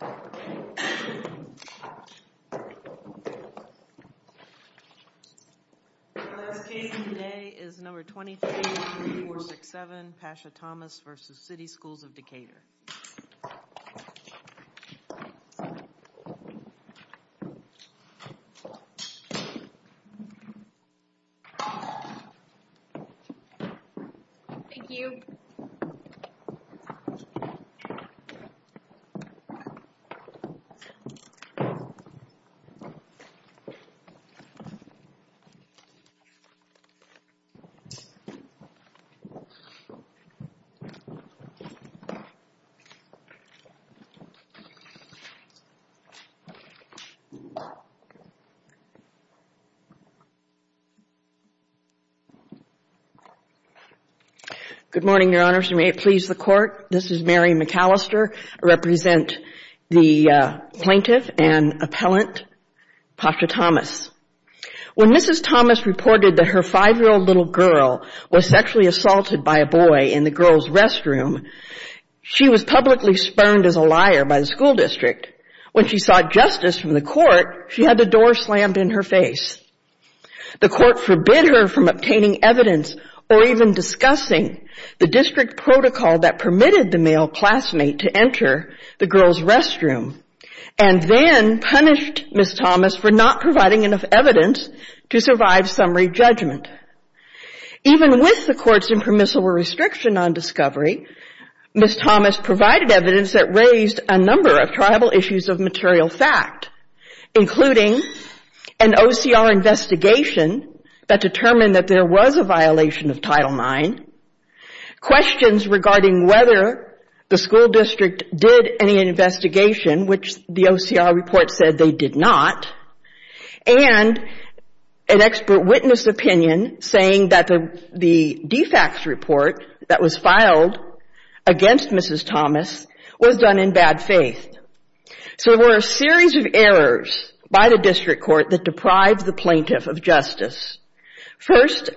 Our next case today is number 23-3467, Pasha Thomas v. City Schools of Decatur. Thank you. Good morning, Your Honors, and may it please the Court, this is Mary McAllister. I represent the plaintiff and appellant, Pasha Thomas. When Mrs. Thomas reported that her five-year-old little girl was sexually assaulted by a boy in the girl's restroom, she was publicly spurned as a liar by the school district. When she sought justice from the Court, she had the door slammed in her face. The Court forbid her from obtaining evidence or even discussing the district protocol that permitted the male classmate to enter the girl's restroom and then punished Mrs. Thomas for not providing enough evidence to survive summary judgment. Even with the Court's impermissible restriction on discovery, Mrs. Thomas provided evidence that raised a number of tribal issues of material fact, including an OCR investigation that determined that there was a violation of Title IX, questions regarding whether the school district did any investigation, which the OCR report said they did not, and an expert witness opinion saying that the de facto report that was filed against Mrs. Thomas was done in bad faith. So there were a series of errors by the district court that deprived the plaintiff of justice. First—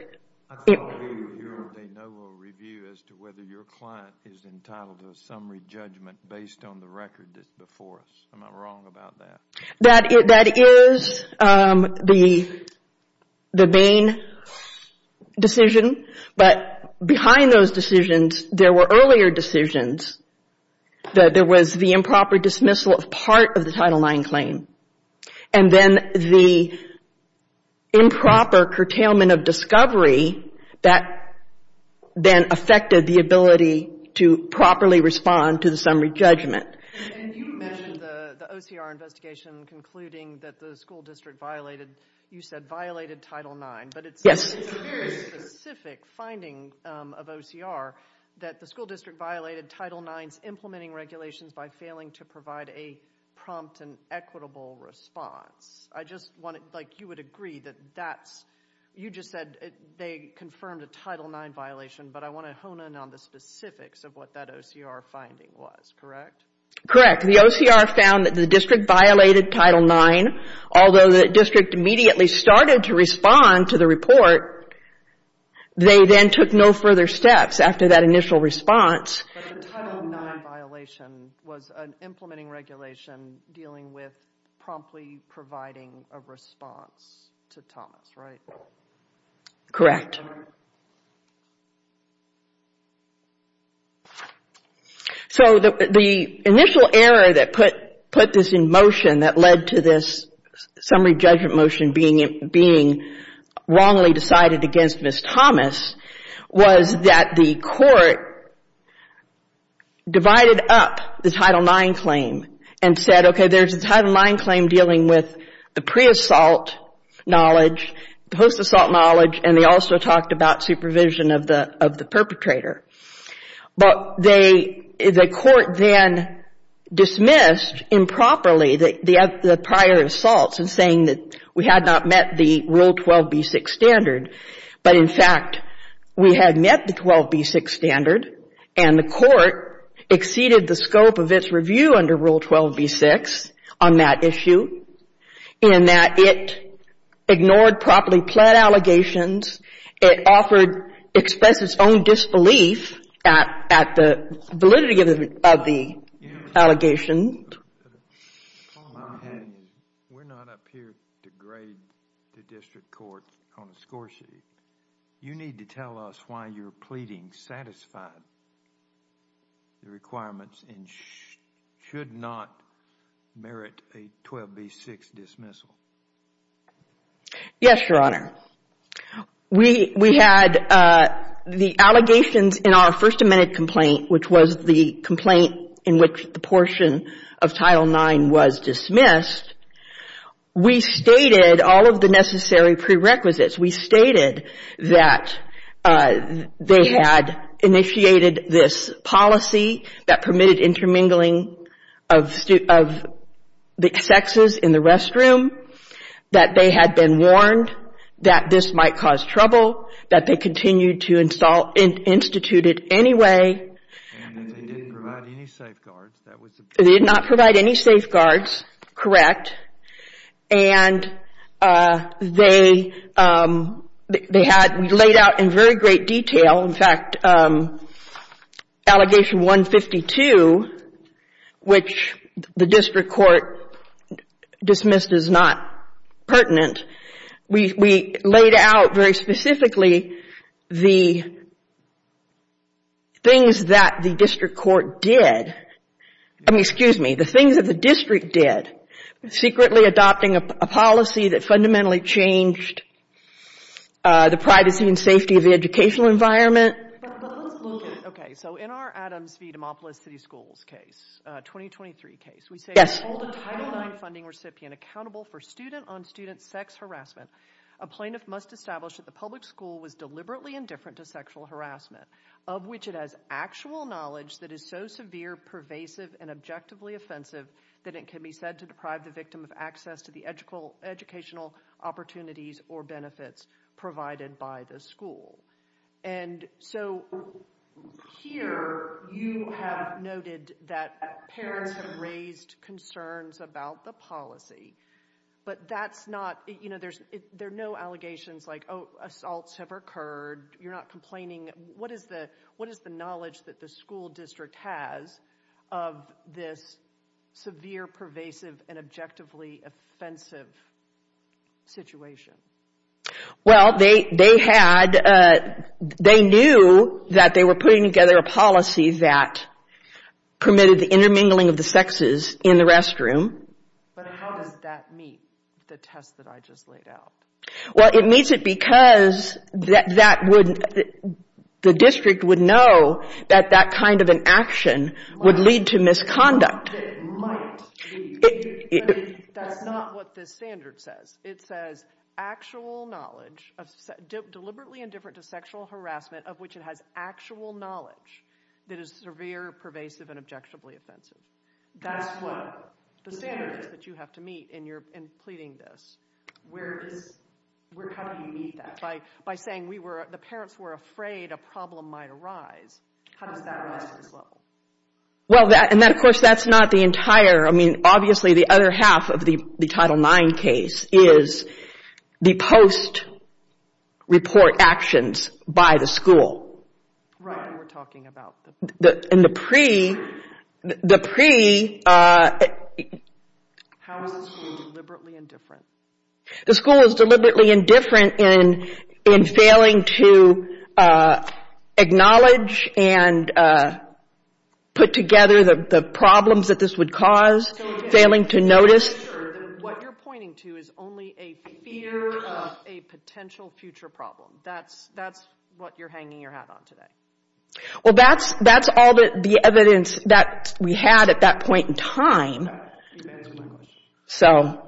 I can't agree with your de novo review as to whether your client is entitled to a summary judgment based on the record that's before us. Am I wrong about that? That is the main decision, but behind those decisions, there were earlier decisions. There was the improper dismissal of part of the Title IX claim, and then the improper curtailment of discovery that then affected the ability to properly respond to the summary judgment. And you mentioned the OCR investigation concluding that the school district violated—you said violated Title IX. Yes. It's a very specific finding of OCR that the school district violated Title IX's implementing regulations by failing to provide a prompt and equitable response. I just want to—like, you would agree that that's—you just said they confirmed a Title IX violation, but I want to hone in on the specifics of what that OCR finding was, correct? Correct. The OCR found that the district violated Title IX, although the district immediately started to respond to the report, they then took no further steps after that initial response. But the Title IX violation was an implementing regulation dealing with promptly providing a response to Thomas, right? Correct. Correct. So the initial error that put this in motion, that led to this summary judgment motion being wrongly decided against Ms. Thomas, was that the court divided up the Title IX claim and said, okay, there's a Title IX claim dealing with the pre-assault knowledge, post-assault knowledge, and they also talked about supervision of the perpetrator. But they—the court then dismissed improperly the prior assaults in saying that we had not met the Rule 12b-6 standard, but in fact we had met the 12b-6 standard and the court exceeded the scope of its review under Rule 12b-6 on that issue in that it ignored properly pled allegations, it offered—expressed its own disbelief at the validity of the allegations. We're not up here to grade the district court on a score sheet. You need to tell us why you're pleading satisfied with the requirements and should not merit a 12b-6 dismissal. Yes, Your Honor. We had the allegations in our First Amendment complaint, which was the complaint in which the portion of Title IX was dismissed. We stated all of the necessary prerequisites. We stated that they had initiated this policy that permitted intermingling of the sexes in the restroom, that they had been warned that this might cause trouble, that they continued to institute it anyway. And that they didn't provide any safeguards. They did not provide any safeguards, correct. And they had—we laid out in very great detail, in fact, Allegation 152, which the district court dismissed as not pertinent, we laid out very specifically the things that the district court did— excuse me, the things that the district did, secretly adopting a policy that fundamentally changed the privacy and safety of the educational environment. Okay, so in our Adams v. DeMopolis City Schools case, 2023 case, we say— Hold a Title IX funding recipient accountable for student-on-student sex harassment. A plaintiff must establish that the public school was deliberately indifferent to sexual harassment, of which it has actual knowledge that is so severe, pervasive, and objectively offensive that it can be said to deprive the victim of access to the educational opportunities or benefits provided by the school. And so here, you have noted that parents have raised concerns about the policy, but that's not— there are no allegations like, oh, assaults have occurred, you're not complaining. What is the knowledge that the school district has of this severe, pervasive, and objectively offensive situation? Well, they knew that they were putting together a policy that permitted the intermingling of the sexes in the restroom. But how does that meet the test that I just laid out? Well, it meets it because that would— the district would know that that kind of an action would lead to misconduct. It might lead. That's not what this standard says. It says actual knowledge, deliberately indifferent to sexual harassment, of which it has actual knowledge that is severe, pervasive, and objectively offensive. That's what the standard is that you have to meet in pleading this. Where is—how do you meet that? By saying we were—the parents were afraid a problem might arise. How does that rise to this level? Well, and that, of course, that's not the entire— I mean, obviously, the other half of the Title IX case is the post-report actions by the school. Right, and we're talking about the— In the pre—the pre— How is the school deliberately indifferent? The school is deliberately indifferent in failing to acknowledge and put together the problems that this would cause, failing to notice. What you're pointing to is only a fear of a potential future problem. That's what you're hanging your hat on today. Well, that's all the evidence that we had at that point in time. So—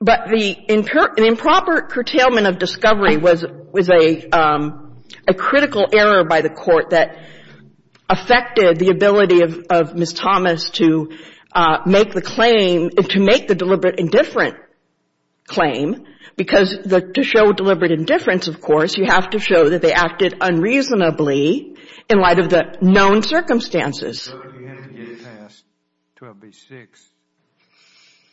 But the improper curtailment of discovery was a critical error by the Court that affected the ability of Ms. Thomas to make the claim— to make the deliberate indifferent claim, because to show deliberate indifference, of course, you have to show that they acted unreasonably in light of the known circumstances. So you had to get past 12b-6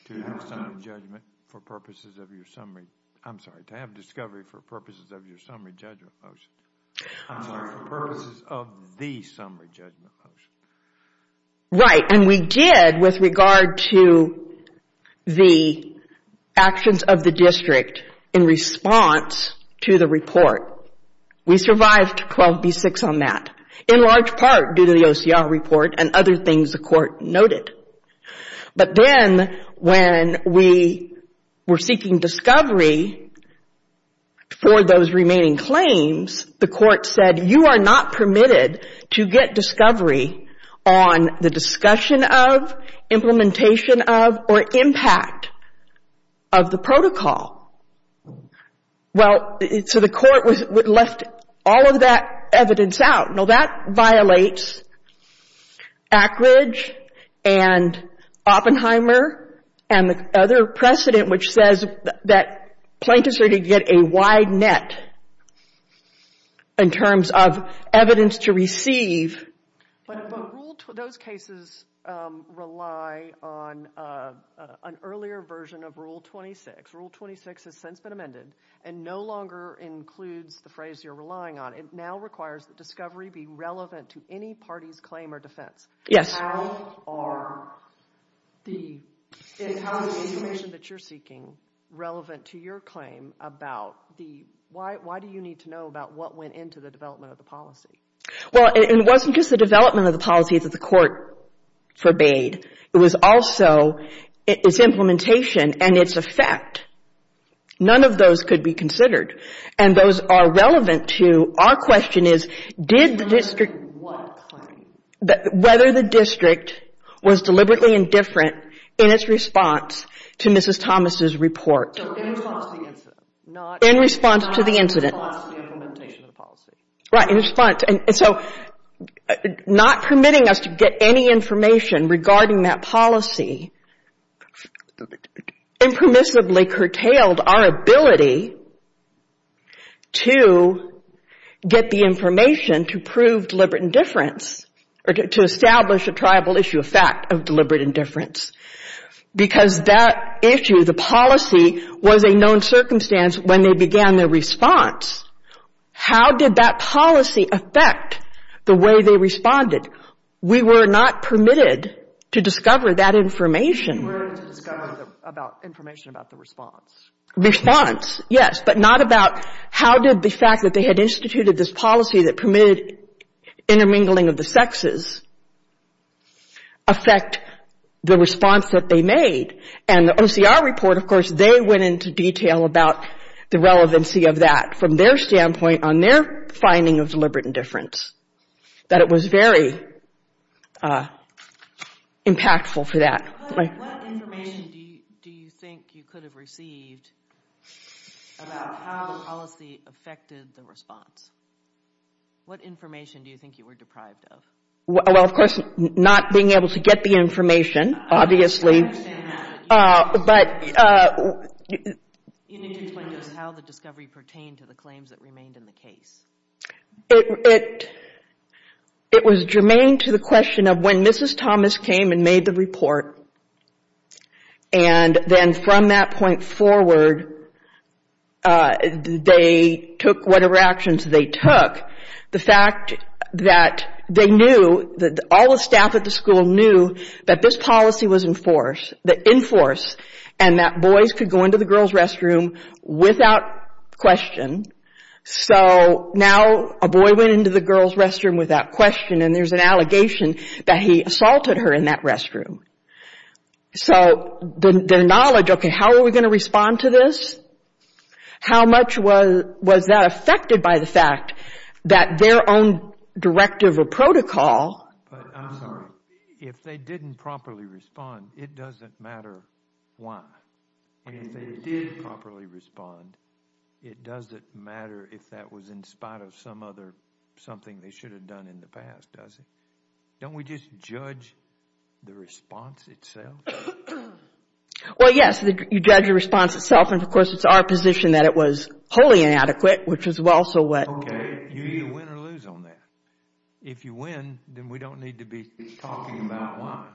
to have summary judgment for purposes of your summary— I'm sorry, to have discovery for purposes of your summary judgment motion. I'm sorry, for purposes of the summary judgment motion. Right, and we did with regard to the actions of the district in response to the report. We survived 12b-6 on that, in large part due to the OCR report and other things the Court noted. But then when we were seeking discovery for those remaining claims, the Court said, you are not permitted to get discovery on the discussion of, implementation of, or impact of the protocol. Well, so the Court left all of that evidence out. Now, that violates Ackridge and Oppenheimer and the other precedent, which says that plaintiffs are to get a wide net in terms of evidence to receive. But those cases rely on an earlier version of Rule 26. Rule 26 has since been amended and no longer includes the phrase you're relying on. It now requires that discovery be relevant to any party's claim or defense. How are the information that you're seeking relevant to your claim about the— why do you need to know about what went into the development of the policy? Well, it wasn't just the development of the policy that the Court forbade. It was also its implementation and its effect. None of those could be considered. And those are relevant to—our question is, did the district— Related to what claim? Whether the district was deliberately indifferent in its response to Mrs. Thomas' report. So in response to the incident. In response to the incident. Not in response to the implementation of the policy. Right, in response. And so not permitting us to get any information regarding that policy impermissibly curtailed our ability to get the information to prove deliberate indifference or to establish a tribal issue of fact of deliberate indifference. Because that issue, the policy, was a known circumstance when they began their response. How did that policy affect the way they responded? We were not permitted to discover that information. You weren't permitted to discover information about the response. Response, yes. But not about how did the fact that they had instituted this policy that permitted intermingling of the sexes affect the response that they made. And the OCR report, of course, they went into detail about the relevancy of that from their standpoint on their finding of deliberate indifference. That it was very impactful for that. What information do you think you could have received about how the policy affected the response? What information do you think you were deprived of? Well, of course, not being able to get the information, obviously. I understand that, but you need to explain to us how the discovery pertained to the claims that remained in the case. It was germane to the question of when Mrs. Thomas came and made the report and then from that point forward they took whatever actions they took, the fact that they knew, all the staff at the school knew, that this policy was in force and that boys could go into the girls' restroom without question. So now a boy went into the girls' restroom without question and there's an allegation that he assaulted her in that restroom. So their knowledge, okay, how are we going to respond to this? How much was that affected by the fact that their own directive or protocol... I'm sorry. If they didn't properly respond, it doesn't matter why. And if they did properly respond, it doesn't matter if that was in spite of some other something they should have done in the past, does it? Don't we just judge the response itself? Well, yes, you judge the response itself and, of course, it's our position that it was wholly inadequate, which is also what... Okay, you either win or lose on that. If you win, then we don't need to be talking about why.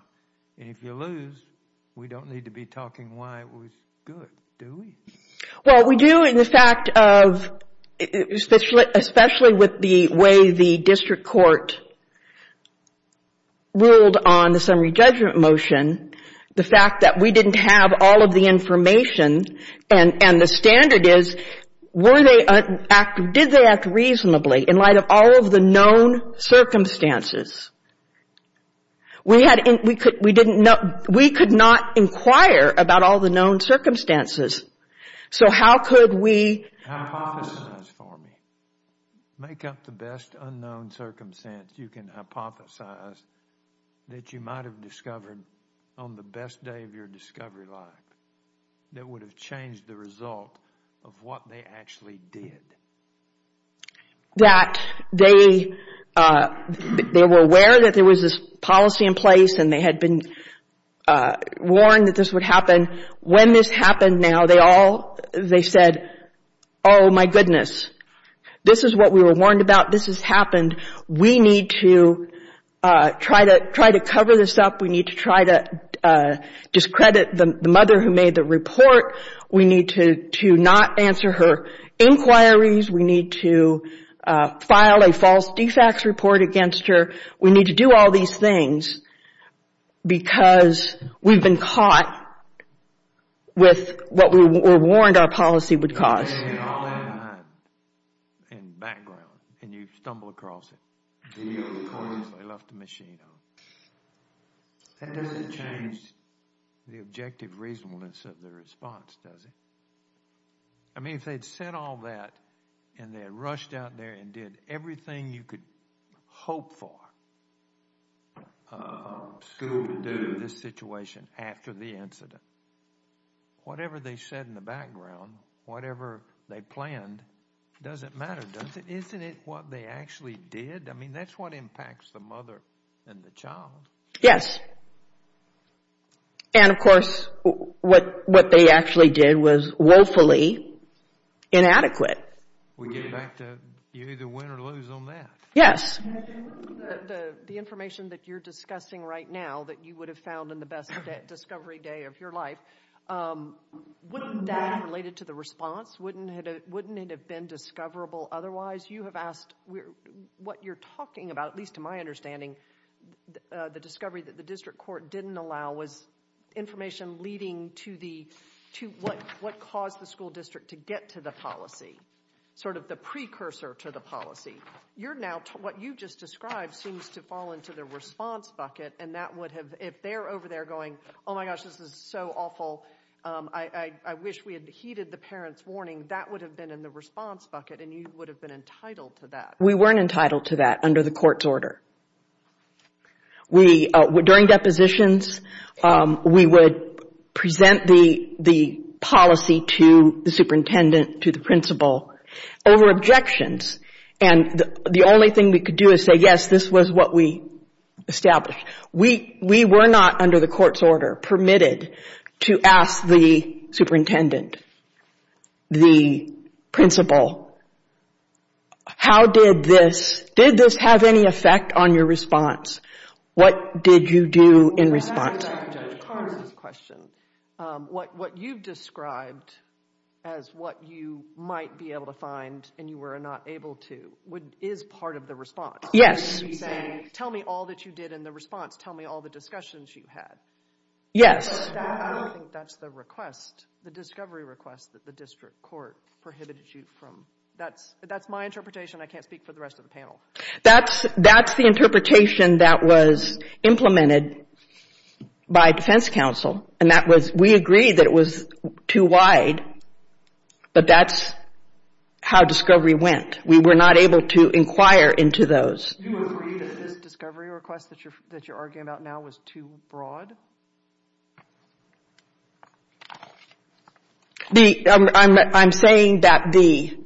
And if you lose, we don't need to be talking why it was good, do we? Well, we do in the fact of, especially with the way the district court ruled on the summary judgment motion, the fact that we didn't have all of the information and the standard is did they act reasonably in light of all of the known circumstances? We could not inquire about all the known circumstances. So how could we... Hypothesize for me. Make up the best unknown circumstance you can hypothesize that you might have discovered on the best day of your discovery life that would have changed the result of what they actually did. That they were aware that there was this policy in place and they had been warned that this would happen. When this happened now, they all... They said, oh, my goodness. This is what we were warned about. This has happened. We need to try to cover this up. We need to try to discredit the mother who made the report. We need to not answer her inquiries. We need to file a false DFAX report against her. We need to do all these things because we've been caught with what we were warned our policy would cause. You bring in all that in mind and background and you stumble across it. Deal with the coins they left the machine on. That doesn't change the objective reasonableness of the response, does it? I mean, if they'd said all that and they had rushed out there and did everything you could hope for school to do with this situation after the incident, whatever they said in the background, whatever they planned, doesn't matter, does it? Isn't it what they actually did? I mean, that's what impacts the mother and the child. And, of course, what they actually did was woefully inadequate. You either win or lose on that. Yes. The information that you're discussing right now that you would have found in the best discovery day of your life, wouldn't that, related to the response, wouldn't it have been discoverable otherwise? Because you have asked what you're talking about, at least to my understanding, the discovery that the district court didn't allow was information leading to what caused the school district to get to the policy, sort of the precursor to the policy. You're now... What you just described seems to fall into the response bucket and that would have... If they're over there going, oh my gosh, this is so awful, I wish we had heeded the parents' warning, that would have been in the response bucket and you would have been entitled to that. We weren't entitled to that under the court's order. During depositions, we would present the policy to the superintendent, to the principal over objections and the only thing we could do is say, yes, this was what we established. We were not, under the court's order, permitted to ask the superintendent, the principal, how did this... Did this have any effect on your response? What did you do in response? I have to go back to Judge Carter's question. What you've described as what you might be able to find and you were not able to is part of the response. Yes. You're saying, tell me all that you did in the response, tell me all the discussions you had. Yes. I don't think that's the request. The discovery request that the district court prohibited you from. That's my interpretation. I can't speak for the rest of the panel. That's the interpretation that was implemented by defense counsel and we agreed that it was too wide but that's how discovery went. We were not able to inquire into those. Do you agree that this discovery request that you're arguing about now was too broad? I'm saying that the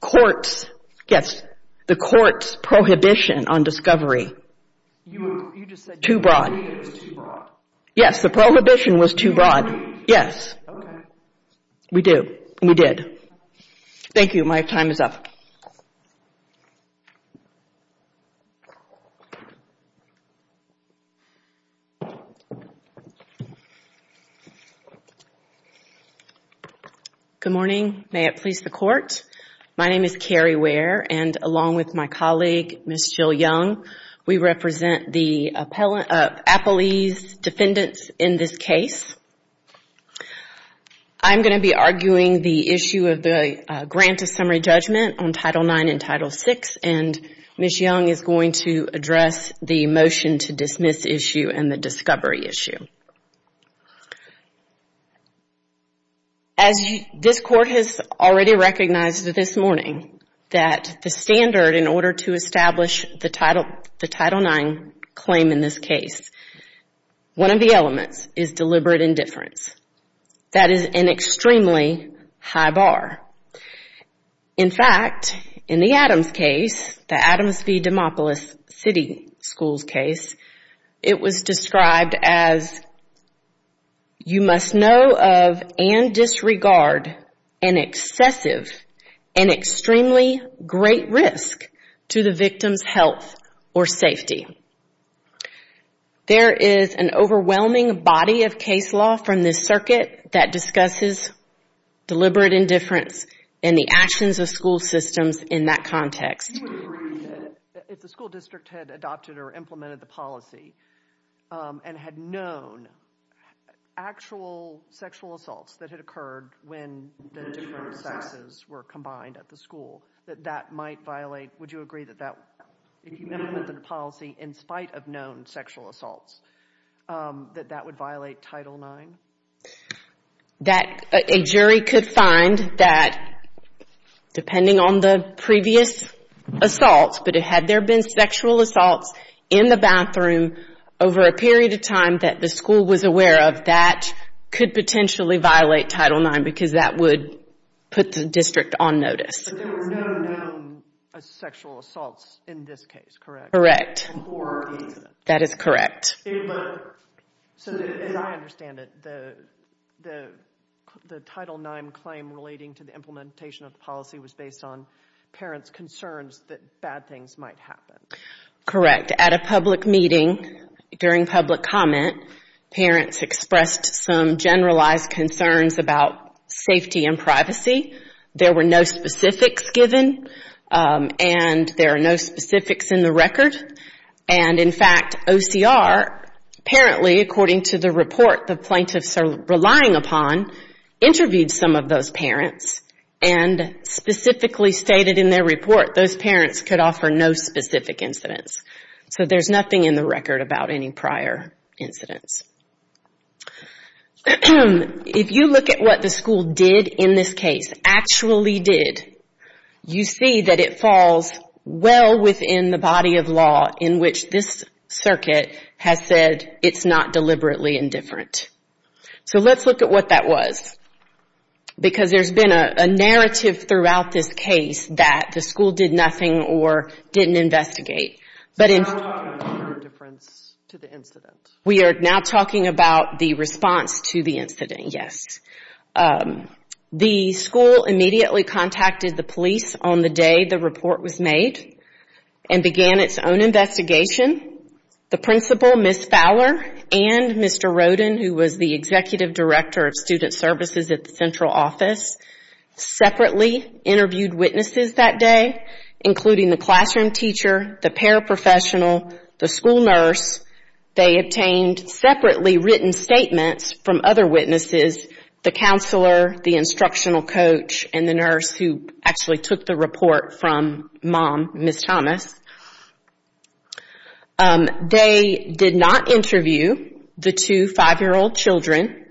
court's... Yes. The court's prohibition on discovery... You just said the prohibition was too broad. Yes, the prohibition was too broad. Do you agree? Yes. Okay. We do. We did. Thank you. My time is up. Good morning. May it please the court. My name is Carrie Ware and along with my colleague, Ms. Jill Young, we represent the appellee's defendants in this case. I'm going to be arguing the issue of the grant of summary judgment on Title IX and Title VI and Ms. Young is going to address the motion to dismiss issue and the discovery issue. As this court has already recognized this morning that the standard in order to establish the Title IX claim in this case, one of the elements is deliberate indifference. That is an extremely high bar. In fact, in the Adams case, the Adams v. Demopolis City Schools case, it was described as, you must know of and disregard an excessive and extremely great risk to the victim's health or safety. There is an overwhelming body of case law from this circuit that discusses deliberate indifference and the actions of school systems in that context. Do you agree that if the school district had adopted or implemented the policy and had known actual sexual assaults that had occurred when the different sexes were combined at the school, that that might violate... Would you agree that if you implemented the policy in spite of known sexual assaults, that that would violate Title IX? That a jury could find that, depending on the previous assaults, but had there been sexual assaults in the bathroom over a period of time that the school was aware of, that could potentially violate Title IX because that would put the district on notice. But there were no known sexual assaults in this case, correct? Correct. Before the incident? That is correct. So as I understand it, the Title IX claim relating to the implementation of the policy was based on parents' concerns that bad things might happen. Correct. At a public meeting, during public comment, parents expressed some generalized concerns about safety and privacy. There were no specifics given, and there are no specifics in the record. And in fact, OCR apparently, according to the report the plaintiffs are relying upon, interviewed some of those parents and specifically stated in their report those parents could offer no specific incidents. So there's nothing in the record about any prior incidents. If you look at what the school did in this case, actually did, you see that it falls well within the body of law in which this circuit has said it's not deliberately indifferent. So let's look at what that was. Because there's been a narrative throughout this case that the school did nothing or didn't investigate. So now we're talking about the difference to the incident. We are now talking about the response to the incident, yes. The school immediately contacted the police on the day the report was made and began its own investigation. The principal, Ms. Fowler, and Mr. Roden, who was the executive director of student services at the central office, separately interviewed witnesses that day, including the classroom teacher, the paraprofessional, the school nurse. They obtained separately written statements from other witnesses, the counselor, the instructional coach, and the nurse who actually took the report from Mom, Ms. Thomas. They did not interview the two 5-year-old children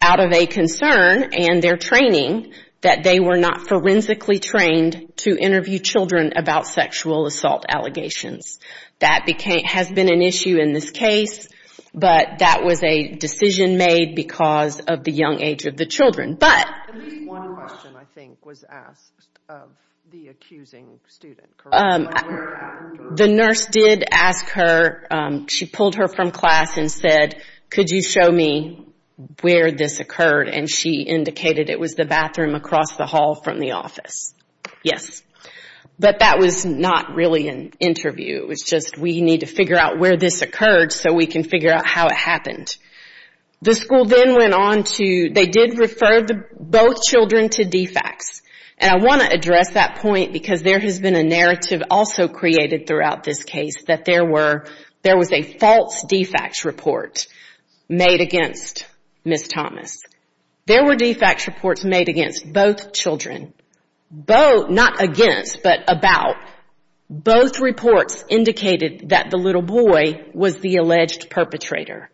out of a concern and their training that they were not forensically trained to interview children about sexual assault allegations. That has been an issue in this case, but that was a decision made because of the young age of the children. But... At least one question, I think, was asked of the accusing student. The nurse did ask her... She pulled her from class and said, could you show me where this occurred? And she indicated it was the bathroom across the hall from the office. Yes. But that was not really an interview. It was just, we need to figure out where this occurred so we can figure out how it happened. The school then went on to... They did refer both children to DFACS. And I want to address that point because there has been a narrative also created throughout this case that there was a false DFACS report made against Ms. Thomas. There were DFACS reports made against both children. Not against, but about. Both reports indicated that the little boy was the alleged perpetrator.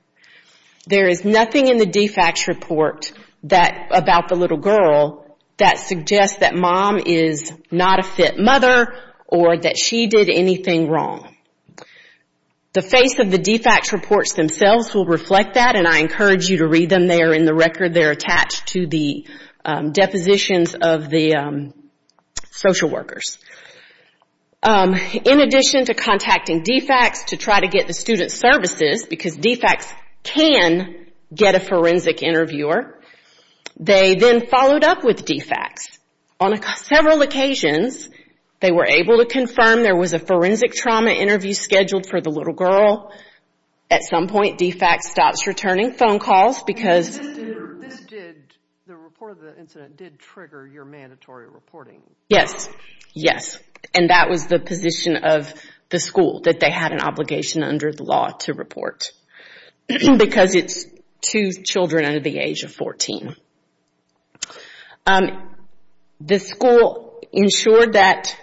There is nothing in the DFACS report about the little girl that suggests that mom is not a fit mother or that she did anything wrong. The face of the DFACS reports themselves will reflect that and I encourage you to read them. They are in the record. They are attached to the depositions of the social workers. In addition to contacting DFACS to try to get the student services, because DFACS can get a forensic interviewer, they then followed up with DFACS. On several occasions, they were able to confirm there was a forensic trauma interview scheduled for the little girl. At some point, DFACS stops returning phone calls because... The report of the incident did trigger your mandatory reporting. Yes, yes. And that was the position of the school, that they had an obligation under the law to report because it's two children under the age of 14. The school ensured that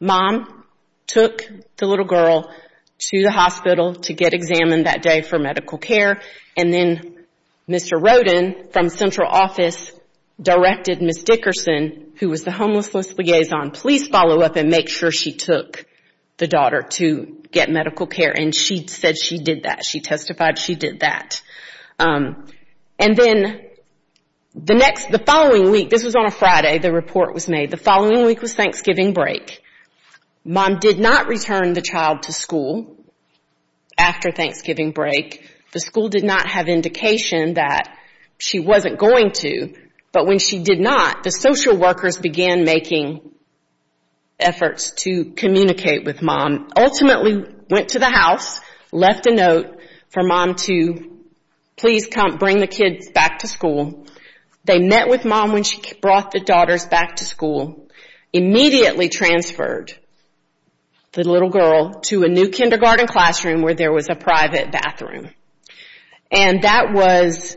mom took the little girl to the hospital to get examined that day for medical care, and then Mr. Rodin from central office directed Ms. Dickerson, who was the homeless list liaison, please follow up and make sure she took the daughter to get medical care, and she said she did that. She testified she did that. And then the following week, this was on a Friday, the report was made, the following week was Thanksgiving break. Mom did not return the child to school after Thanksgiving break. The school did not have indication that she wasn't going to, but when she did not, the social workers began making efforts to communicate with mom. Ultimately went to the house, left a note for mom to please bring the kids back to school. They met with mom when she brought the daughters back to school, immediately transferred the little girl to a new kindergarten classroom where there was a private bathroom. And that was,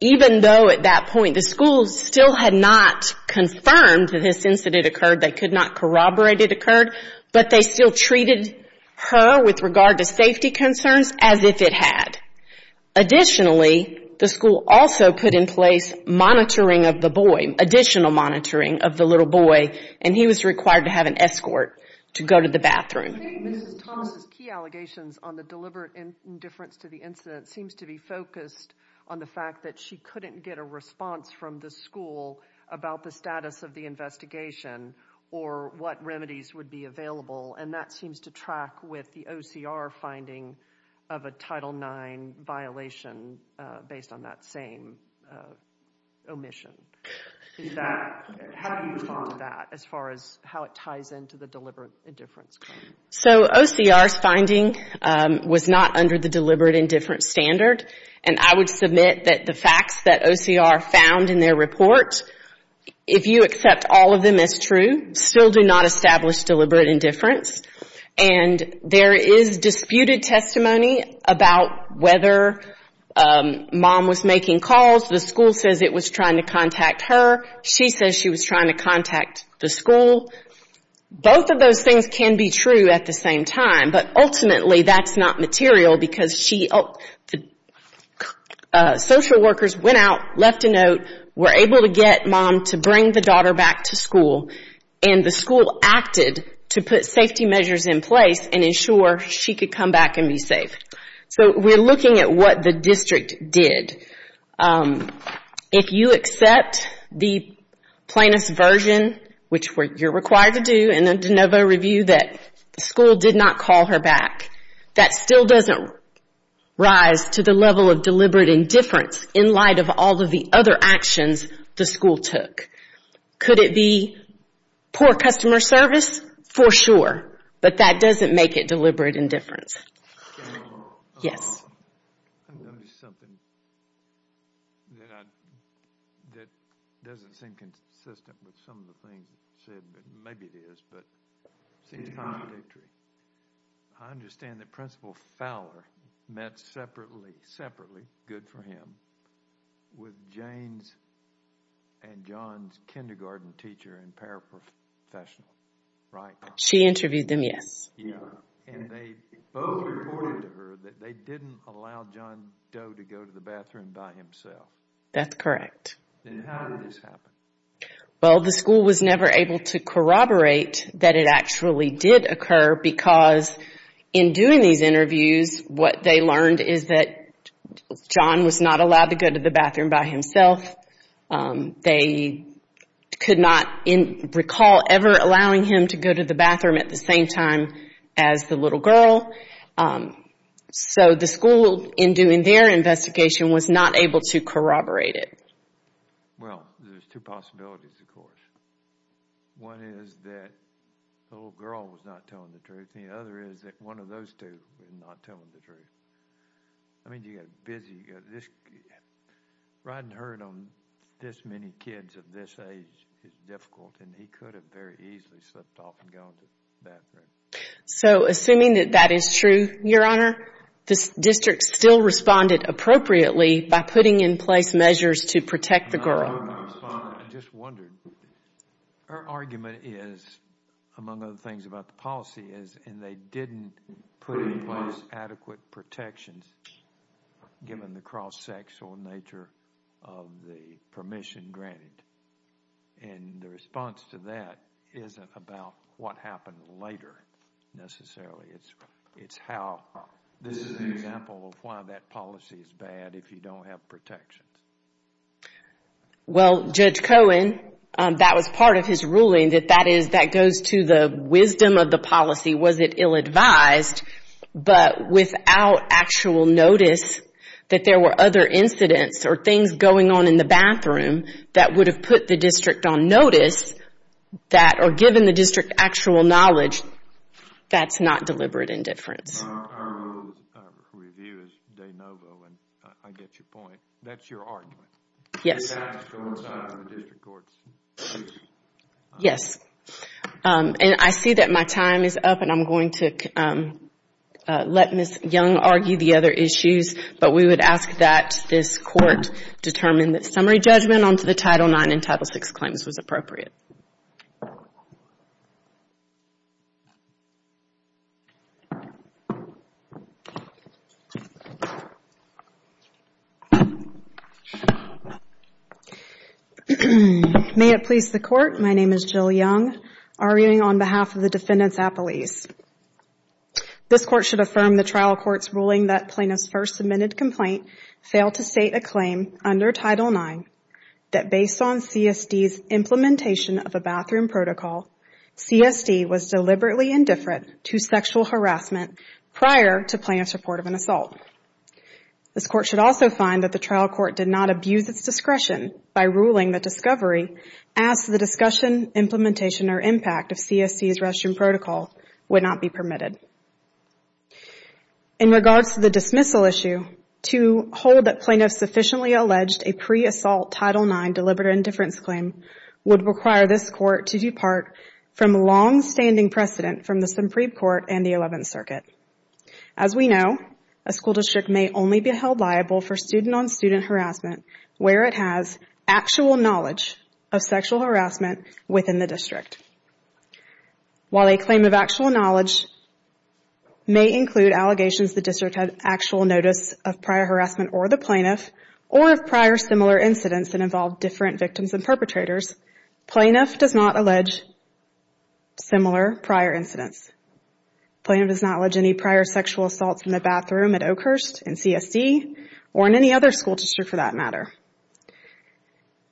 even though at that point the school still had not confirmed that this incident occurred, they could not corroborate it occurred, but they still treated her with regard to safety concerns as if it had. Additionally, the school also put in place monitoring of the boy, additional monitoring of the little boy, and he was required to have an escort to go to the bathroom. I think Mrs. Thomas' key allegations on the deliberate indifference to the incident seems to be focused on the fact that she couldn't get a response from the school about the status of the investigation or what remedies would be available, and that seems to track with the OCR finding of a Title IX violation based on that same omission. How do you respond to that as far as how it ties into the deliberate indifference claim? So OCR's finding was not under the deliberate indifference standard, and I would submit that the facts that OCR found in their report, if you accept all of them as true, still do not establish deliberate indifference, and there is disputed testimony about whether Mom was making calls. The school says it was trying to contact her. She says she was trying to contact the school. Both of those things can be true at the same time, but ultimately that's not material because the social workers went out, left a note, were able to get Mom to bring the daughter back to school, and the school acted to put safety measures in place and ensure she could come back and be safe. So we're looking at what the district did. If you accept the plaintiff's version, which you're required to do in a de novo review, that the school did not call her back, that still doesn't rise to the level of deliberate indifference in light of all of the other actions the school took. Could it be poor customer service? For sure, but that doesn't make it deliberate indifference. Yes? I noticed something that doesn't seem consistent with some of the things you said, but maybe it is, but it seems contradictory. I understand that Principal Fowler met separately, good for him, with Jane's and John's kindergarten teacher and paraprofessional, right? She interviewed them, yes. And they both reported to her that they didn't allow John Doe to go to the bathroom by himself. That's correct. Then how did this happen? Well, the school was never able to corroborate that it actually did occur because in doing these interviews, what they learned is that John was not allowed to go to the bathroom by himself. They could not recall ever allowing him to go to the bathroom at the same time as the little girl. So the school, in doing their investigation, was not able to corroborate it. Well, there's two possibilities, of course. One is that the little girl was not telling the truth, and the other is that one of those two is not telling the truth. I mean, you got busy. Riding herd on this many kids of this age is difficult, and he could have very easily slipped off and gone to the bathroom. So assuming that that is true, Your Honor, the district still responded appropriately by putting in place measures to protect the girl. I just wondered. Her argument is, among other things about the policy, is they didn't put in place adequate protections given the cross-sexual nature of the permission granted. And the response to that isn't about what happened later necessarily. It's how this is an example of why that policy is bad. if you don't have protections. Well, Judge Cohen, that was part of his ruling, that that goes to the wisdom of the policy. Was it ill-advised? But without actual notice that there were other incidents or things going on in the bathroom that would have put the district on notice or given the district actual knowledge, that's not deliberate indifference. Our rule of review is de novo, and I get your point. That's your argument. Yes. Please ask for more time from the district courts. Yes. And I see that my time is up, and I'm going to let Ms. Young argue the other issues. But we would ask that this court determine that summary judgment onto the Title IX and Title VI claims was appropriate. May it please the Court, my name is Jill Young, arguing on behalf of the defendants at police. This court should affirm the trial court's ruling that plaintiff's first submitted complaint failed to state a claim under Title IX that based on CSD's implementation of a bathroom protocol, CSD was deliberately indifferent to sexual harassment prior to plaintiff's report of an assault. This court should also find that the trial court did not abuse its discretion by ruling that discovery as to the discussion, implementation, or impact of CSD's restroom protocol would not be permitted. In regards to the dismissal issue, to hold that plaintiff sufficiently alleged a pre-assault Title IX deliberate indifference claim would require this court to depart from long-standing precedent from the Supreme Court and the Eleventh Circuit. As we know, a school district may only be held liable for student-on-student harassment where it has actual knowledge of sexual harassment within the district. While a claim of actual knowledge may include allegations the district had actual notice of prior harassment or the plaintiff, or of prior similar incidents that involved different victims and perpetrators, plaintiff does not allege similar prior incidents. Plaintiff does not allege any prior sexual assaults in the bathroom at Oakhurst, in CSD, or in any other school district for that matter.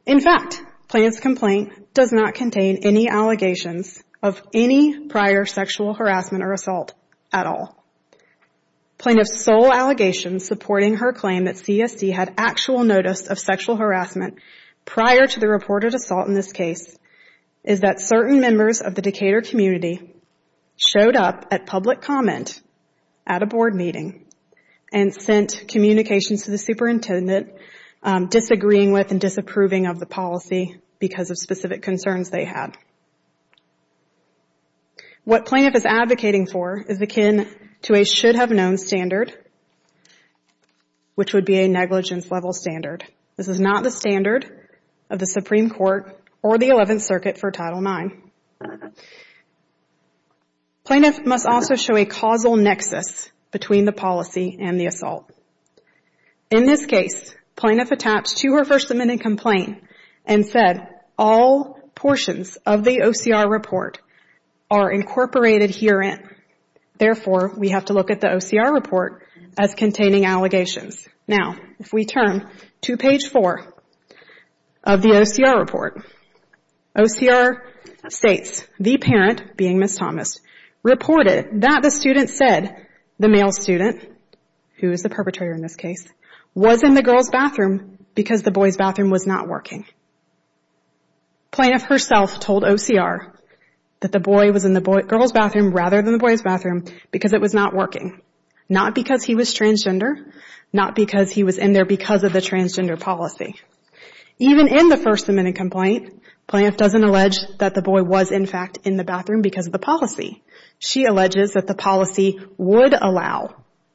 In fact, plaintiff's complaint does not contain any allegations of any prior sexual harassment or assault at all. Plaintiff's sole allegation supporting her claim that CSD had actual notice of sexual harassment prior to the reported assault in this case is that certain members of the Decatur community showed up at public comment at a board meeting and sent communications to the superintendent disagreeing with and disapproving of the policy because of specific concerns they had. What plaintiff is advocating for is akin to a should-have-known standard, which would be a negligence-level standard. This is not the standard of the Supreme Court or the Eleventh Circuit for Title IX. Plaintiff must also show a causal nexus between the policy and the assault. In this case, plaintiff attached to her first amendment complaint and said all portions of the OCR report are incorporated herein. Therefore, we have to look at the OCR report as containing allegations. Now, if we turn to page 4 of the OCR report, OCR states the parent, being Ms. Thomas, reported that the student said the male student, who is the perpetrator in this case, was in the girls' bathroom because the boys' bathroom was not working. Plaintiff herself told OCR that the boy was in the girls' bathroom rather than the boys' bathroom because it was not working, not because he was transgender, not because he was in there because of the transgender policy. Even in the first amendment complaint, plaintiff doesn't allege that the boy was, in fact, in the bathroom because of the policy. She alleges that the policy would allow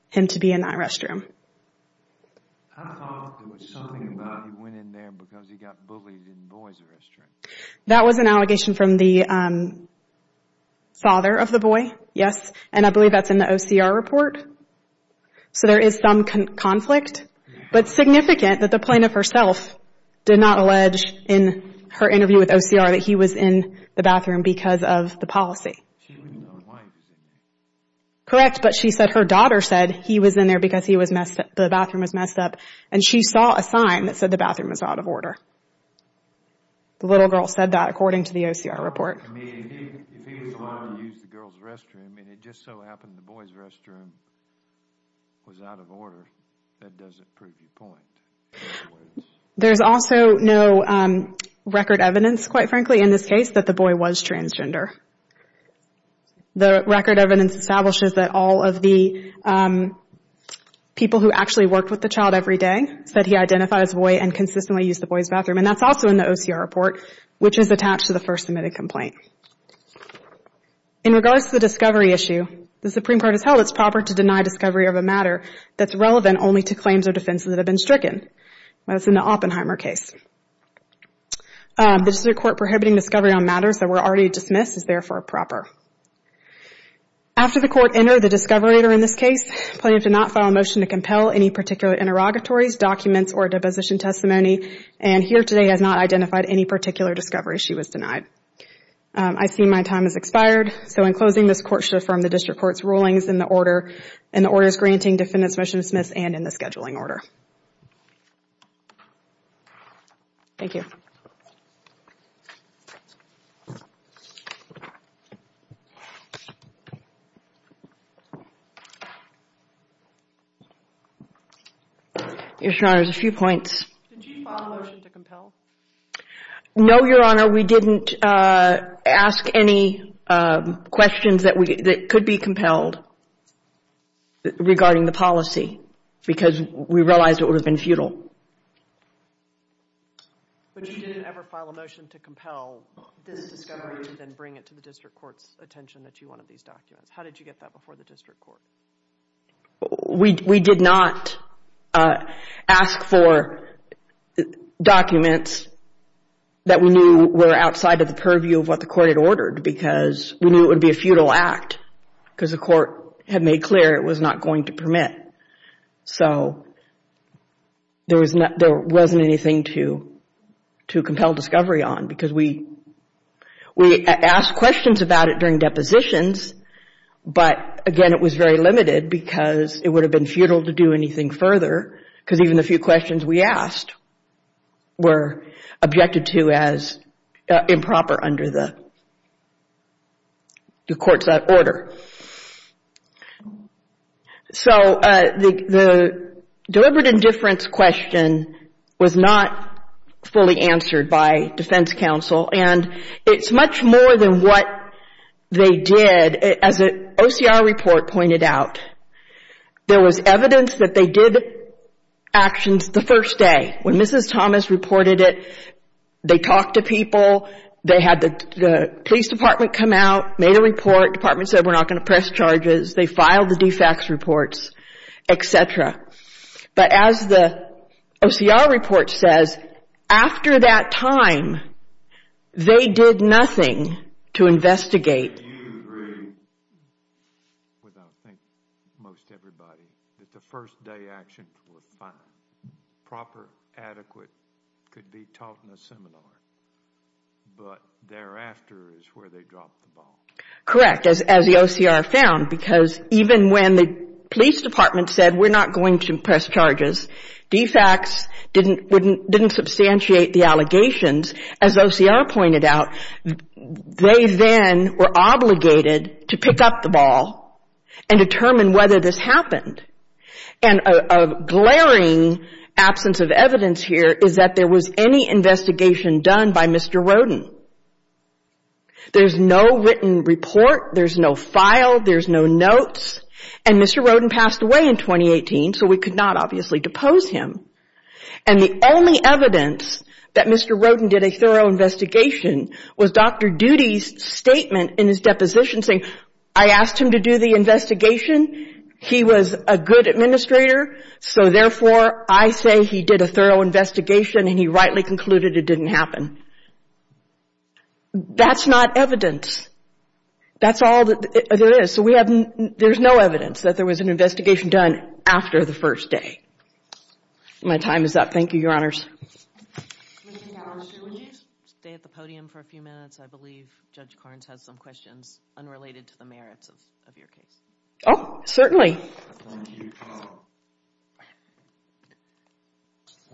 him to be in that restroom. That was an allegation from the father of the boy, yes, and I believe that's in the OCR report. So there is some conflict, but significant that the plaintiff herself did not allege in her interview with OCR that he was in the bathroom because of the policy. Correct, but she said her daughter said he was in there because the bathroom was messed up and she saw a sign that said the bathroom was out of order. The little girl said that according to the OCR report. If he was allowed to use the girls' restroom and it just so happened the boys' restroom was out of order, that doesn't prove your point. There's also no record evidence, quite frankly, in this case that the boy was transgender. The record evidence establishes that all of the people who actually worked with the child every day said he identified as a boy and consistently used the boys' bathroom, and that's also in the OCR report, which is attached to the first submitted complaint. In regards to the discovery issue, the Supreme Court has held it's proper to deny discovery of a matter that's relevant only to claims or defenses that have been stricken. That's in the Oppenheimer case. The District Court prohibiting discovery on matters that were already dismissed is therefore proper. After the Court entered the discovery in this case, the plaintiff did not file a motion to compel any particular interrogatories, documents, or deposition testimony, and here today has not identified any particular discovery. She was denied. I see my time has expired, so in closing, this Court shall affirm the District Court's rulings in the orders granting defendant's motion to dismiss and in the scheduling order. Thank you. Your Honor, there's a few points. Did you file a motion to compel? No, Your Honor. We didn't ask any questions that could be compelled regarding the policy because we realized it would have been futile. But you didn't ever file a motion to compel? You didn't file a motion to compel this discovery and then bring it to the District Court's attention that you wanted these documents. How did you get that before the District Court? We did not ask for documents that we knew were outside of the purview of what the Court had ordered because we knew it would be a futile act because the Court had made clear it was not going to permit. So there wasn't anything to compel discovery on because we asked questions about it during depositions, but again it was very limited because it would have been futile to do anything further because even the few questions we asked were objected to as improper under the Court's order. So the deliberate indifference question was not fully answered by defense counsel and it's much more than what they did. As an OCR report pointed out, there was evidence that they did actions the first day. When Mrs. Thomas reported it, they talked to people, they had the police department come out, made a report, the court department said we're not going to press charges, they filed the de facto reports, etc. But as the OCR report says, after that time they did nothing to investigate. Do you agree with, I think, most everybody, that the first day actions were proper, adequate, could be taught in a seminar, but thereafter is where they dropped the ball? Correct, as the OCR found, because even when the police department said we're not going to press charges, de facts didn't substantiate the allegations. As OCR pointed out, they then were obligated to pick up the ball and determine whether this happened. And a glaring absence of evidence here is that there was any investigation done by Mr. Rodin. There's no written report, there's no file, there's no notes, and Mr. Rodin passed away in 2018, so we could not obviously depose him. And the only evidence that Mr. Rodin did a thorough investigation was Dr. Doody's statement in his deposition saying, I asked him to do the investigation, he was a good administrator, so therefore I say he did a thorough investigation and he rightly concluded it didn't happen. That's not evidence. That's all there is. So there's no evidence that there was an investigation done after the first day. My time is up. Thank you, Your Honors. Ms. Howard, will you stay at the podium for a few minutes? I believe Judge Carnes has some questions unrelated to the merits of your case. Oh, certainly. Thank you.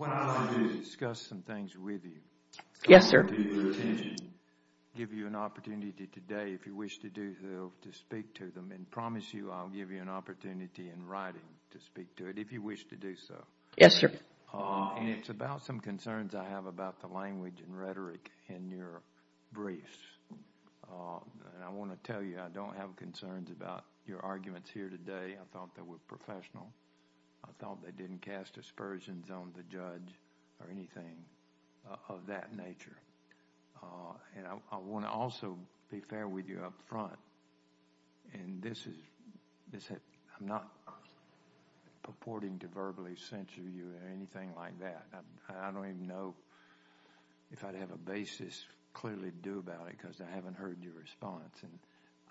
I want to discuss some things with you. Yes, sir. I want to give you an opportunity today, if you wish to do so, to speak to them, and promise you I'll give you an opportunity in writing to speak to it, if you wish to do so. Yes, sir. And it's about some concerns I have about the language and rhetoric in your briefs. I want to tell you I don't have concerns about your arguments here today. I thought they were professional. I thought they didn't cast aspersions on the judge or anything of that nature. I want to also be fair with you up front, and this is... I'm not purporting to verbally censure you or anything like that. I don't even know if I'd have a basis clearly to do about it because I haven't heard your response.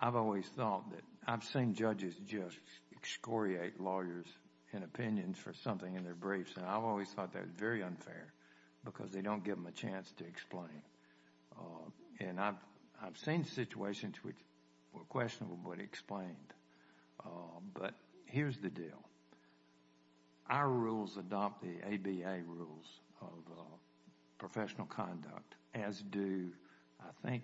I've always thought that... I've seen judges just excoriate lawyers in opinions for something in their briefs, and I've always thought that was very unfair because they don't give them a chance to explain. And I've seen situations which were questionable but explained. But here's the deal. Our rules adopt the ABA rules of professional conduct, as do, I think...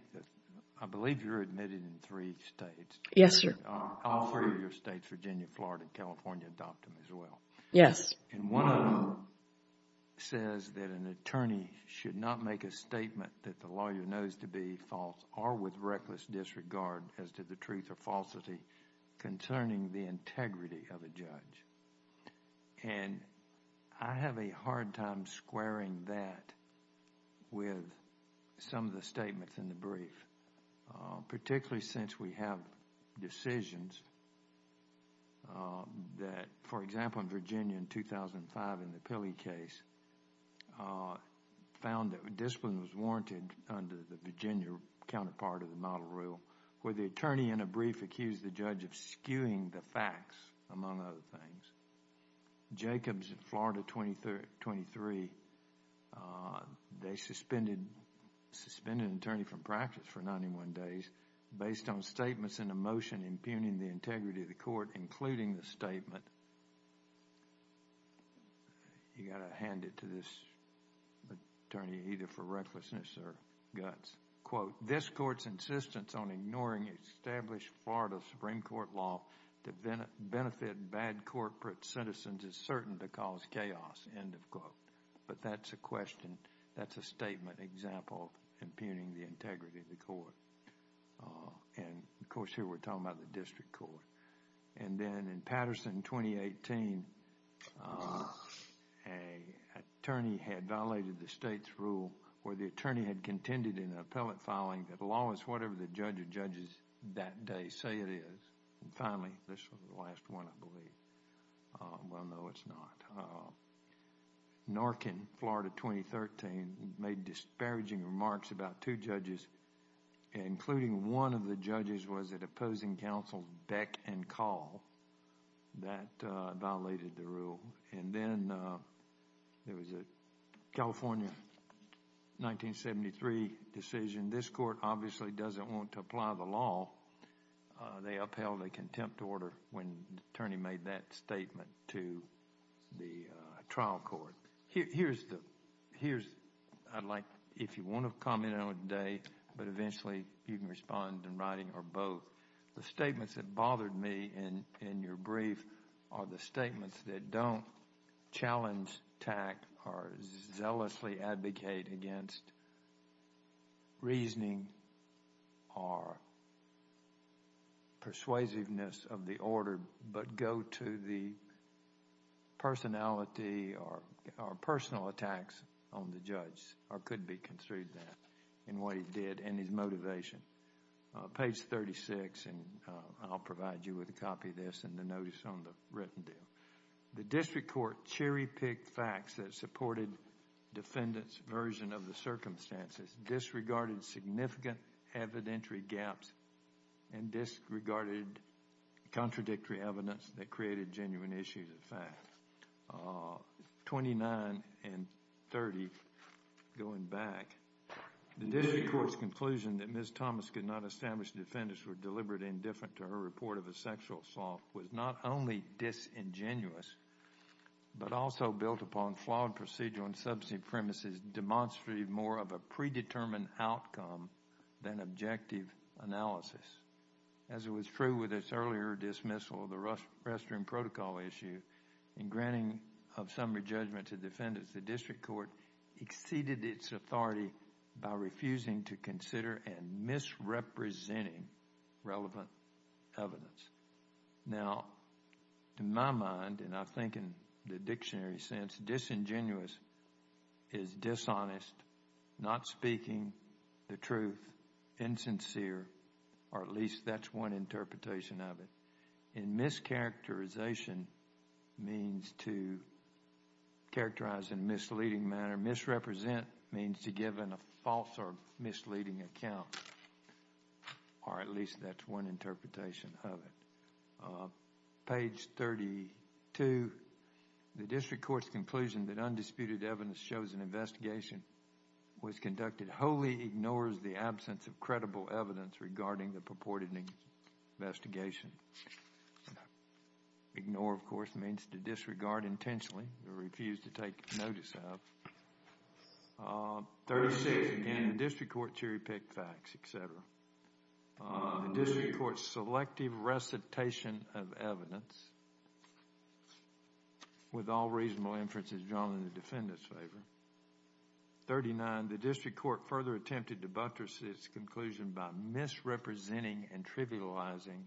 I believe you're admitted in three states. Yes, sir. All three of your states, Virginia, Florida, and California adopt them as well. Yes. And one of them says that an attorney should not make a statement that the lawyer knows to be false or with reckless disregard as to the truth or falsity concerning the integrity of a judge. And I have a hard time squaring that with some of the statements in the brief, particularly since we have decisions that... where the attorney in a brief accused the judge of skewing the facts, among other things. Jacobs in Florida 23, they suspended an attorney from practice for 91 days based on statements in the motion impugning the integrity of the court, including the statement... You've got to hand it to this attorney either for recklessness or guts. Quote, this court's insistence on ignoring established Florida Supreme Court law to benefit bad corporate citizens is certain to cause chaos, end of quote. But that's a question. That's a statement example impugning the integrity of the court. And, of course, here we're talking about the district court. And then in Patterson 2018, an attorney had violated the state's rule where the attorney had contended in an appellate filing that law is whatever the judge or judges that day say it is. And finally, this is the last one, I believe. Well, no, it's not. Norkin, Florida 2013, made disparaging remarks about two judges, including one of the judges was at opposing counsel Beck and Call that violated the rule. And then there was a California 1973 decision. This court obviously doesn't want to apply the law. They upheld a contempt order when the attorney made that statement to the trial court. Here's the... here's... I'd like... if you want to comment on it today, but eventually you can respond in writing or both. The statements that bothered me in your brief are the statements that don't challenge, attack, or zealously advocate against reasoning or persuasiveness of the order, but go to the personality or personal attacks on the judge, or could be construed that in what he did and his motivation. Page 36, and I'll provide you with a copy of this and the notice on the written deal. The district court cherry-picked facts that supported defendants' version of the circumstances, disregarded significant evidentiary gaps, and disregarded contradictory evidence that created genuine issues of fact. 29 and 30, going back, the district court's conclusion that Ms. Thomas could not establish the defendants were deliberately indifferent to her report of a sexual assault was not only disingenuous, but also built upon flawed procedural and substantive premises demonstrating more of a predetermined outcome than objective analysis. As was true with its earlier dismissal of the restroom protocol issue and granting of summary judgment to defendants, the district court exceeded its authority by refusing to consider and misrepresenting relevant evidence. Now, in my mind, and I think in the dictionary sense, disingenuous is dishonest, not speaking the truth, insincere, or at least that's one interpretation of it. And mischaracterization means to characterize in a misleading manner. Misrepresent means to give a false or misleading account, or at least that's one interpretation of it. Page 32, the district court's conclusion that undisputed evidence shows an investigation was conducted wholly ignores the absence of credible evidence regarding the purported investigation. Ignore, of course, means to disregard intentionally or refuse to take notice of. 36, again, the district court cherry-picked facts, etc. The district court's selective recitation of evidence, with all reasonable inferences drawn in the defendant's favor. 39, the district court further attempted to buttress its conclusion by misrepresenting and trivializing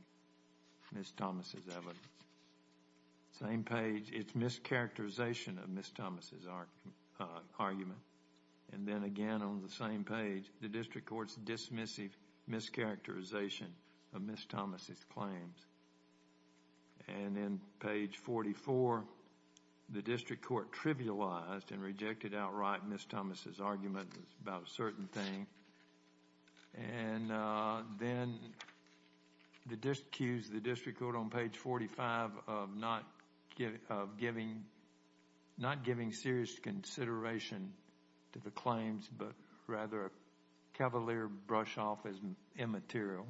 Ms. Thomas' evidence. Same page, its mischaracterization of Ms. Thomas' argument. And then again on the same page, the district court's dismissive mischaracterization of Ms. Thomas' claims. And then page 44, the district court trivialized and rejected outright Ms. Thomas' argument about a certain thing. And then the district court on page 45 of not giving serious consideration to the claims, but rather a cavalier brush-off as immaterial.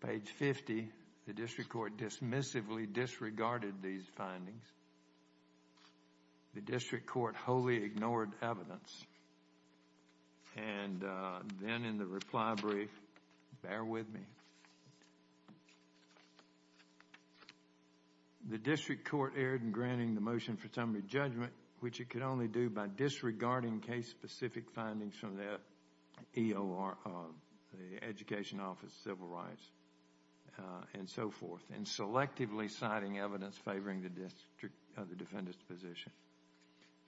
Page 50, the district court dismissively disregarded these findings. The district court wholly ignored evidence. And then in the reply brief, bear with me. The district court erred in granting the motion for summary judgment, which it could only do by disregarding case-specific findings from the EOR, the Education Office of Civil Rights, and so forth, and selectively citing evidence favoring the district of the defendant's position.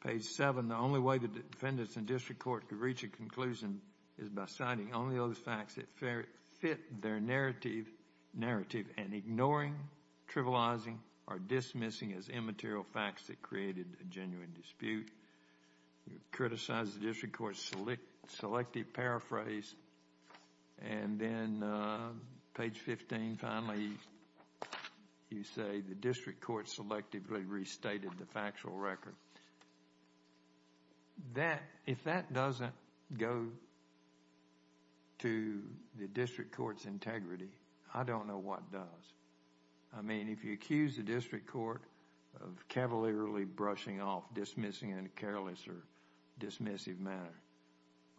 Page 7, the only way the defendants in district court could reach a conclusion is by citing only those facts that fit their narrative, and ignoring, trivializing, or dismissing as immaterial facts that created a genuine dispute. It criticized the district court's selective paraphrase. And then page 15, finally, you say the district court selectively restated the factual record. That, if that doesn't go to the district court's integrity, I don't know what does. I mean, if you accuse the district court of cavalierly brushing off, dismissing in a careless or dismissive manner,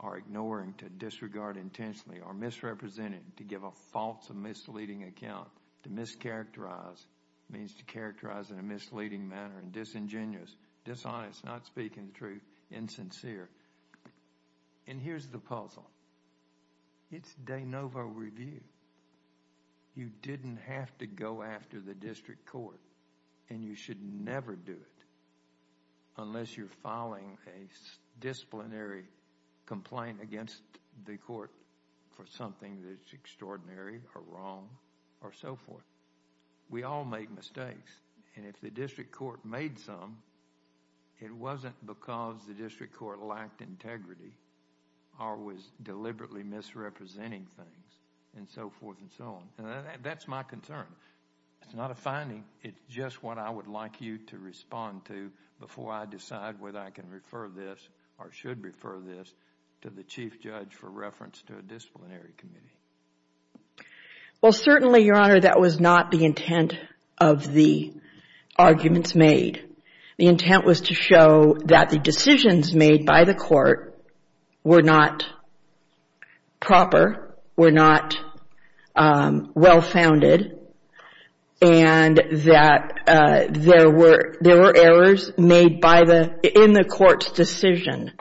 or ignoring to disregard intentionally, or misrepresenting to give a false or misleading account, to mischaracterize means to characterize in a misleading manner, and disingenuous, dishonest, not speaking the truth, insincere. And here's the puzzle. It's de novo review. You didn't have to go after the district court, and you should never do it unless you're filing a disciplinary complaint against the court for something that's extraordinary, or wrong, or so forth. We all make mistakes. And if the district court made some, it wasn't because the district court lacked integrity or was deliberately misrepresenting things, and so forth and so on. And that's my concern. It's not a finding. It's just what I would like you to respond to before I decide whether I can refer this, or should refer this, to the chief judge for reference to a disciplinary committee. Well, certainly, Your Honor, that was not the intent of the arguments made. The intent was to show that the decisions made by the court were not proper, were not well-founded, and that there were errors made in the court's decision.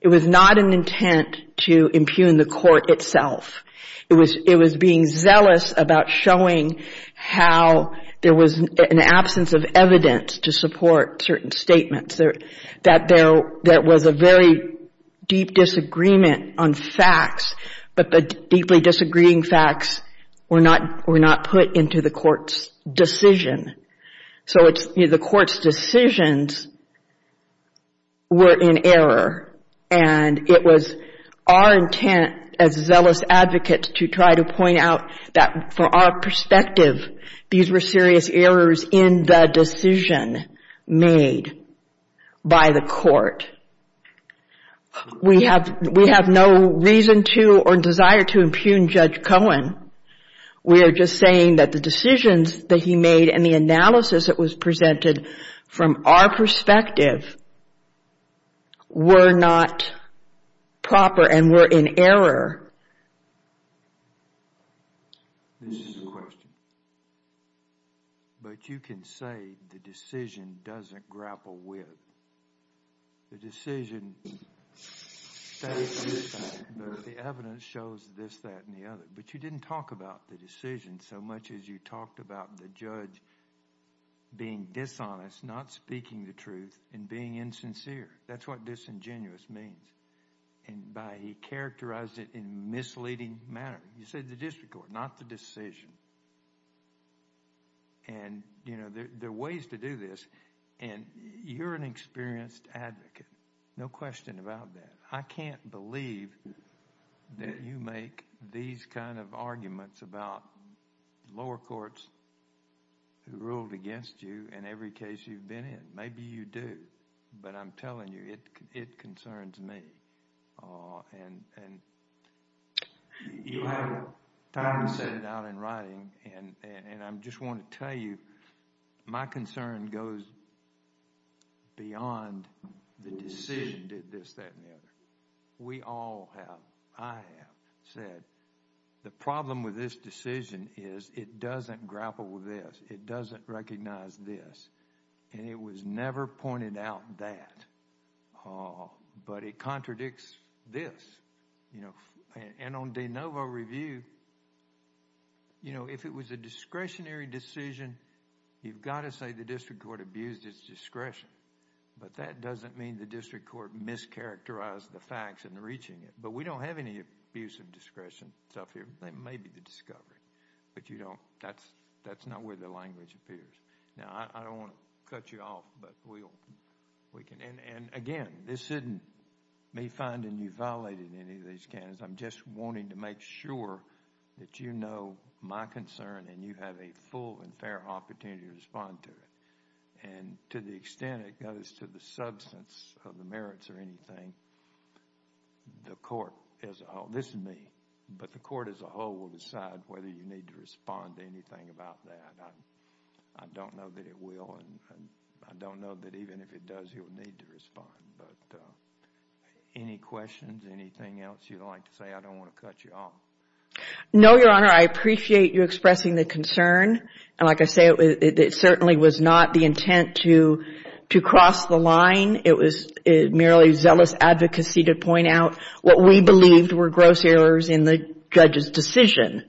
It was not an intent to impugn the court itself. It was being zealous about showing how there was an absence of evidence to support certain statements, that there was a very deep disagreement on facts, but the deeply disagreeing facts were not put into the court's decision. So the court's decisions were in error, and it was our intent, as zealous advocates, to try to point out that, from our perspective, these were serious errors in the decision made by the court. We have no reason to or desire to impugn Judge Cohen. We are just saying that the decisions that he made and the analysis that was presented from our perspective were not proper and were in error. This is a question, but you can say the decision doesn't grapple with. The decision states this fact, but the evidence shows this, that, and the other. But you didn't talk about the decision so much as you talked about the judge being dishonest, not speaking the truth, and being insincere. That's what disingenuous means. He characterized it in a misleading manner. You said the district court, not the decision. There are ways to do this, and you're an experienced advocate. No question about that. I can't believe that you make these kind of arguments about lower courts who ruled against you in every case you've been in. Maybe you do, but I'm telling you, it concerns me. You'll have time to set it out in writing, and I just want to tell you, my concern goes beyond the decision did this, that, and the other. We all have, I have, said the problem with this decision is it doesn't grapple with this. It doesn't recognize this, and it was never pointed out that. But it contradicts this. And on de novo review, if it was a discretionary decision, you've got to say the district court abused its discretion. But that doesn't mean the district court mischaracterized the facts in reaching it. But we don't have any abuse of discretion stuff here. That may be the discovery, but that's not where the language appears. Now, I don't want to cut you off, but we can. And again, this isn't me finding you violated in any of these cases. I'm just wanting to make sure that you know my concern, and you have a full and fair opportunity to respond to it. And to the extent it goes to the substance of the merits or anything, the court as a whole, this is me, but the court as a whole will decide whether you need to respond to anything about that. I don't know that it will, and I don't know that even if it does, you'll need to respond. But any questions, anything else you'd like to say? I don't want to cut you off. No, Your Honor. I appreciate you expressing the concern. And like I say, it certainly was not the intent to cross the line. It was merely zealous advocacy to point out what we believed were gross errors in the judge's decision.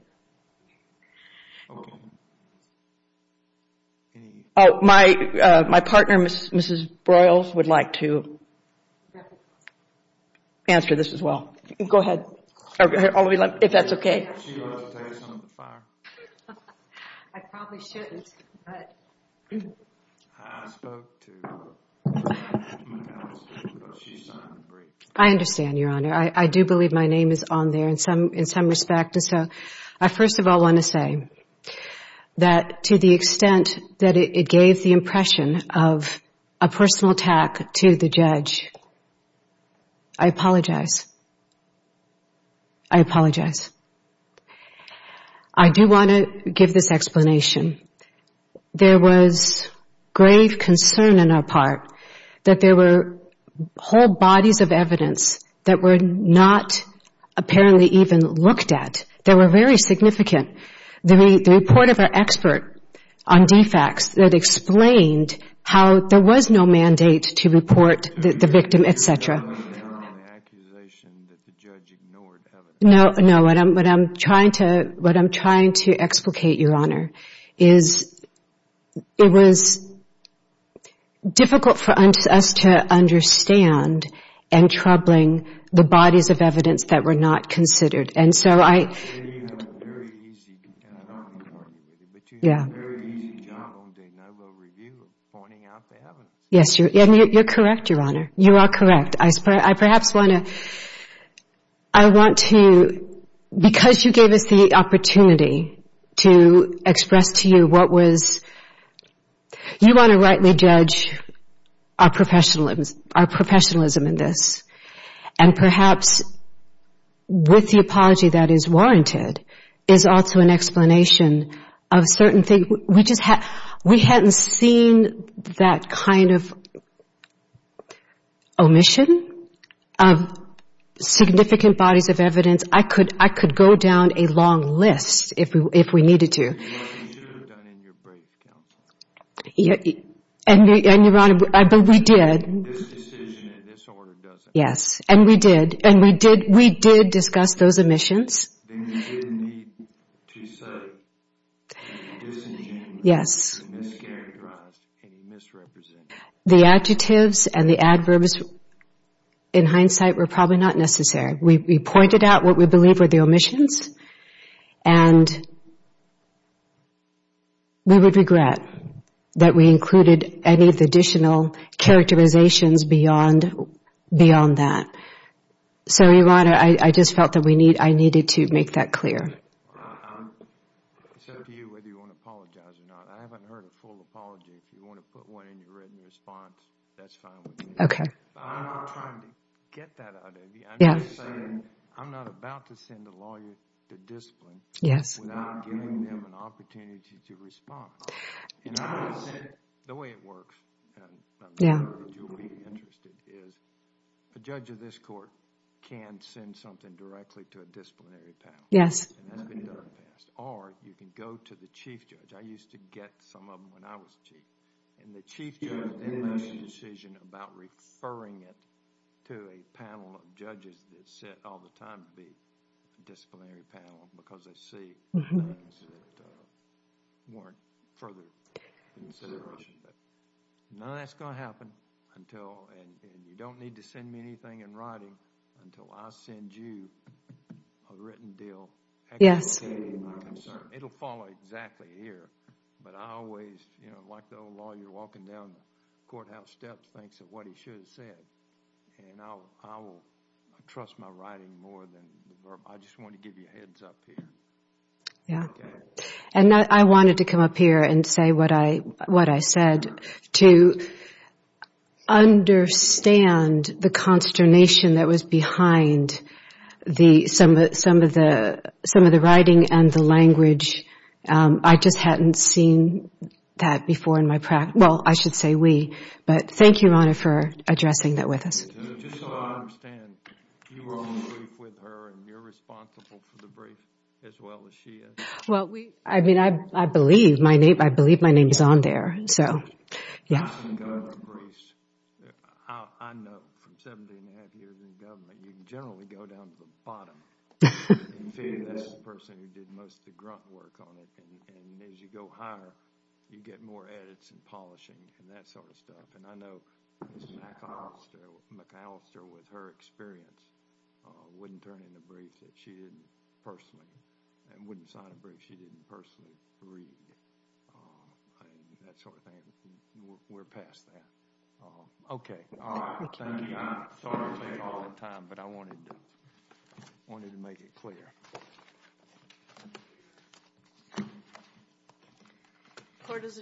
My partner, Mrs. Broyles, would like to answer this as well. Go ahead. If that's okay. I understand, Your Honor. I do believe my name is on there in some respect. I first of all want to say that to the extent that it gave the impression of a personal attack to the judge, I apologize. I apologize. I do want to give this explanation. There was grave concern on our part that there were whole bodies of evidence that were not apparently even looked at. They were very significant. The report of our expert on defects that explained how there was no mandate to report the victim, et cetera. No, what I'm trying to explicate, Your Honor, is it was difficult for us to understand and troubling the bodies of evidence that were not considered. I'm not going to argue with you, but you did a very easy job of doing a no-blow review of pointing out the evidence. Yes, and you're correct, Your Honor. You are correct. You want to rightly judge our professionalism in this. And perhaps with the apology that is warranted is also an explanation of certain things. We hadn't seen that kind of omission of significant bodies of evidence. I could go down a long list if we needed to. And what you should have done in your brief, Counsel. This decision in this order doesn't matter. Then you didn't need to say disingenuous, mischaracterized, and misrepresented. We would regret that we included any additional characterizations beyond that. So, Your Honor, I just felt that I needed to make that clear. I haven't heard a full apology. I'm not trying to get that out of you. I'm just saying I'm not about to send a lawyer to discipline without giving them an opportunity to respond. The way it works, and I'm sure you'll be interested, is a judge of this court can send something directly to a disciplinary panel. Or you can go to the chief judge. I used to get some of them when I was chief. And the chief judge then makes a decision about referring it to a panel of judges that sit all the time to be a disciplinary panel because they see things that warrant further consideration. None of that's going to happen until, and you don't need to send me anything in writing until I send you a written deal explaining my concern. It'll follow exactly here, but I always, like the old law, you're walking down the courthouse steps thanks to what he should have said. I trust my writing more than the verb. I just want to give you a heads up here. I wanted to come up here and say what I said to understand the consternation that was behind some of the writing and the language. I just hadn't seen that before in my practice. Well, I should say we. But thank you, Your Honor, for addressing that with us. Just so I understand, you were on the brief with her and you're responsible for the brief as well as she is? I believe my name is on there. I know from 17 and a half years in government, you can generally go down to the bottom. That's the person who did most of the grunt work on it. And as you go higher, you get more edits and polishing and that sort of stuff. And I know Ms. McAllister, with her experience, wouldn't turn in a brief that she didn't personally and wouldn't sign a brief she didn't personally read. That sort of thing. We're past that. OK. Thank you, Your Honor. Sorry to take all that time, but I wanted to make it clear. Court is adjourned.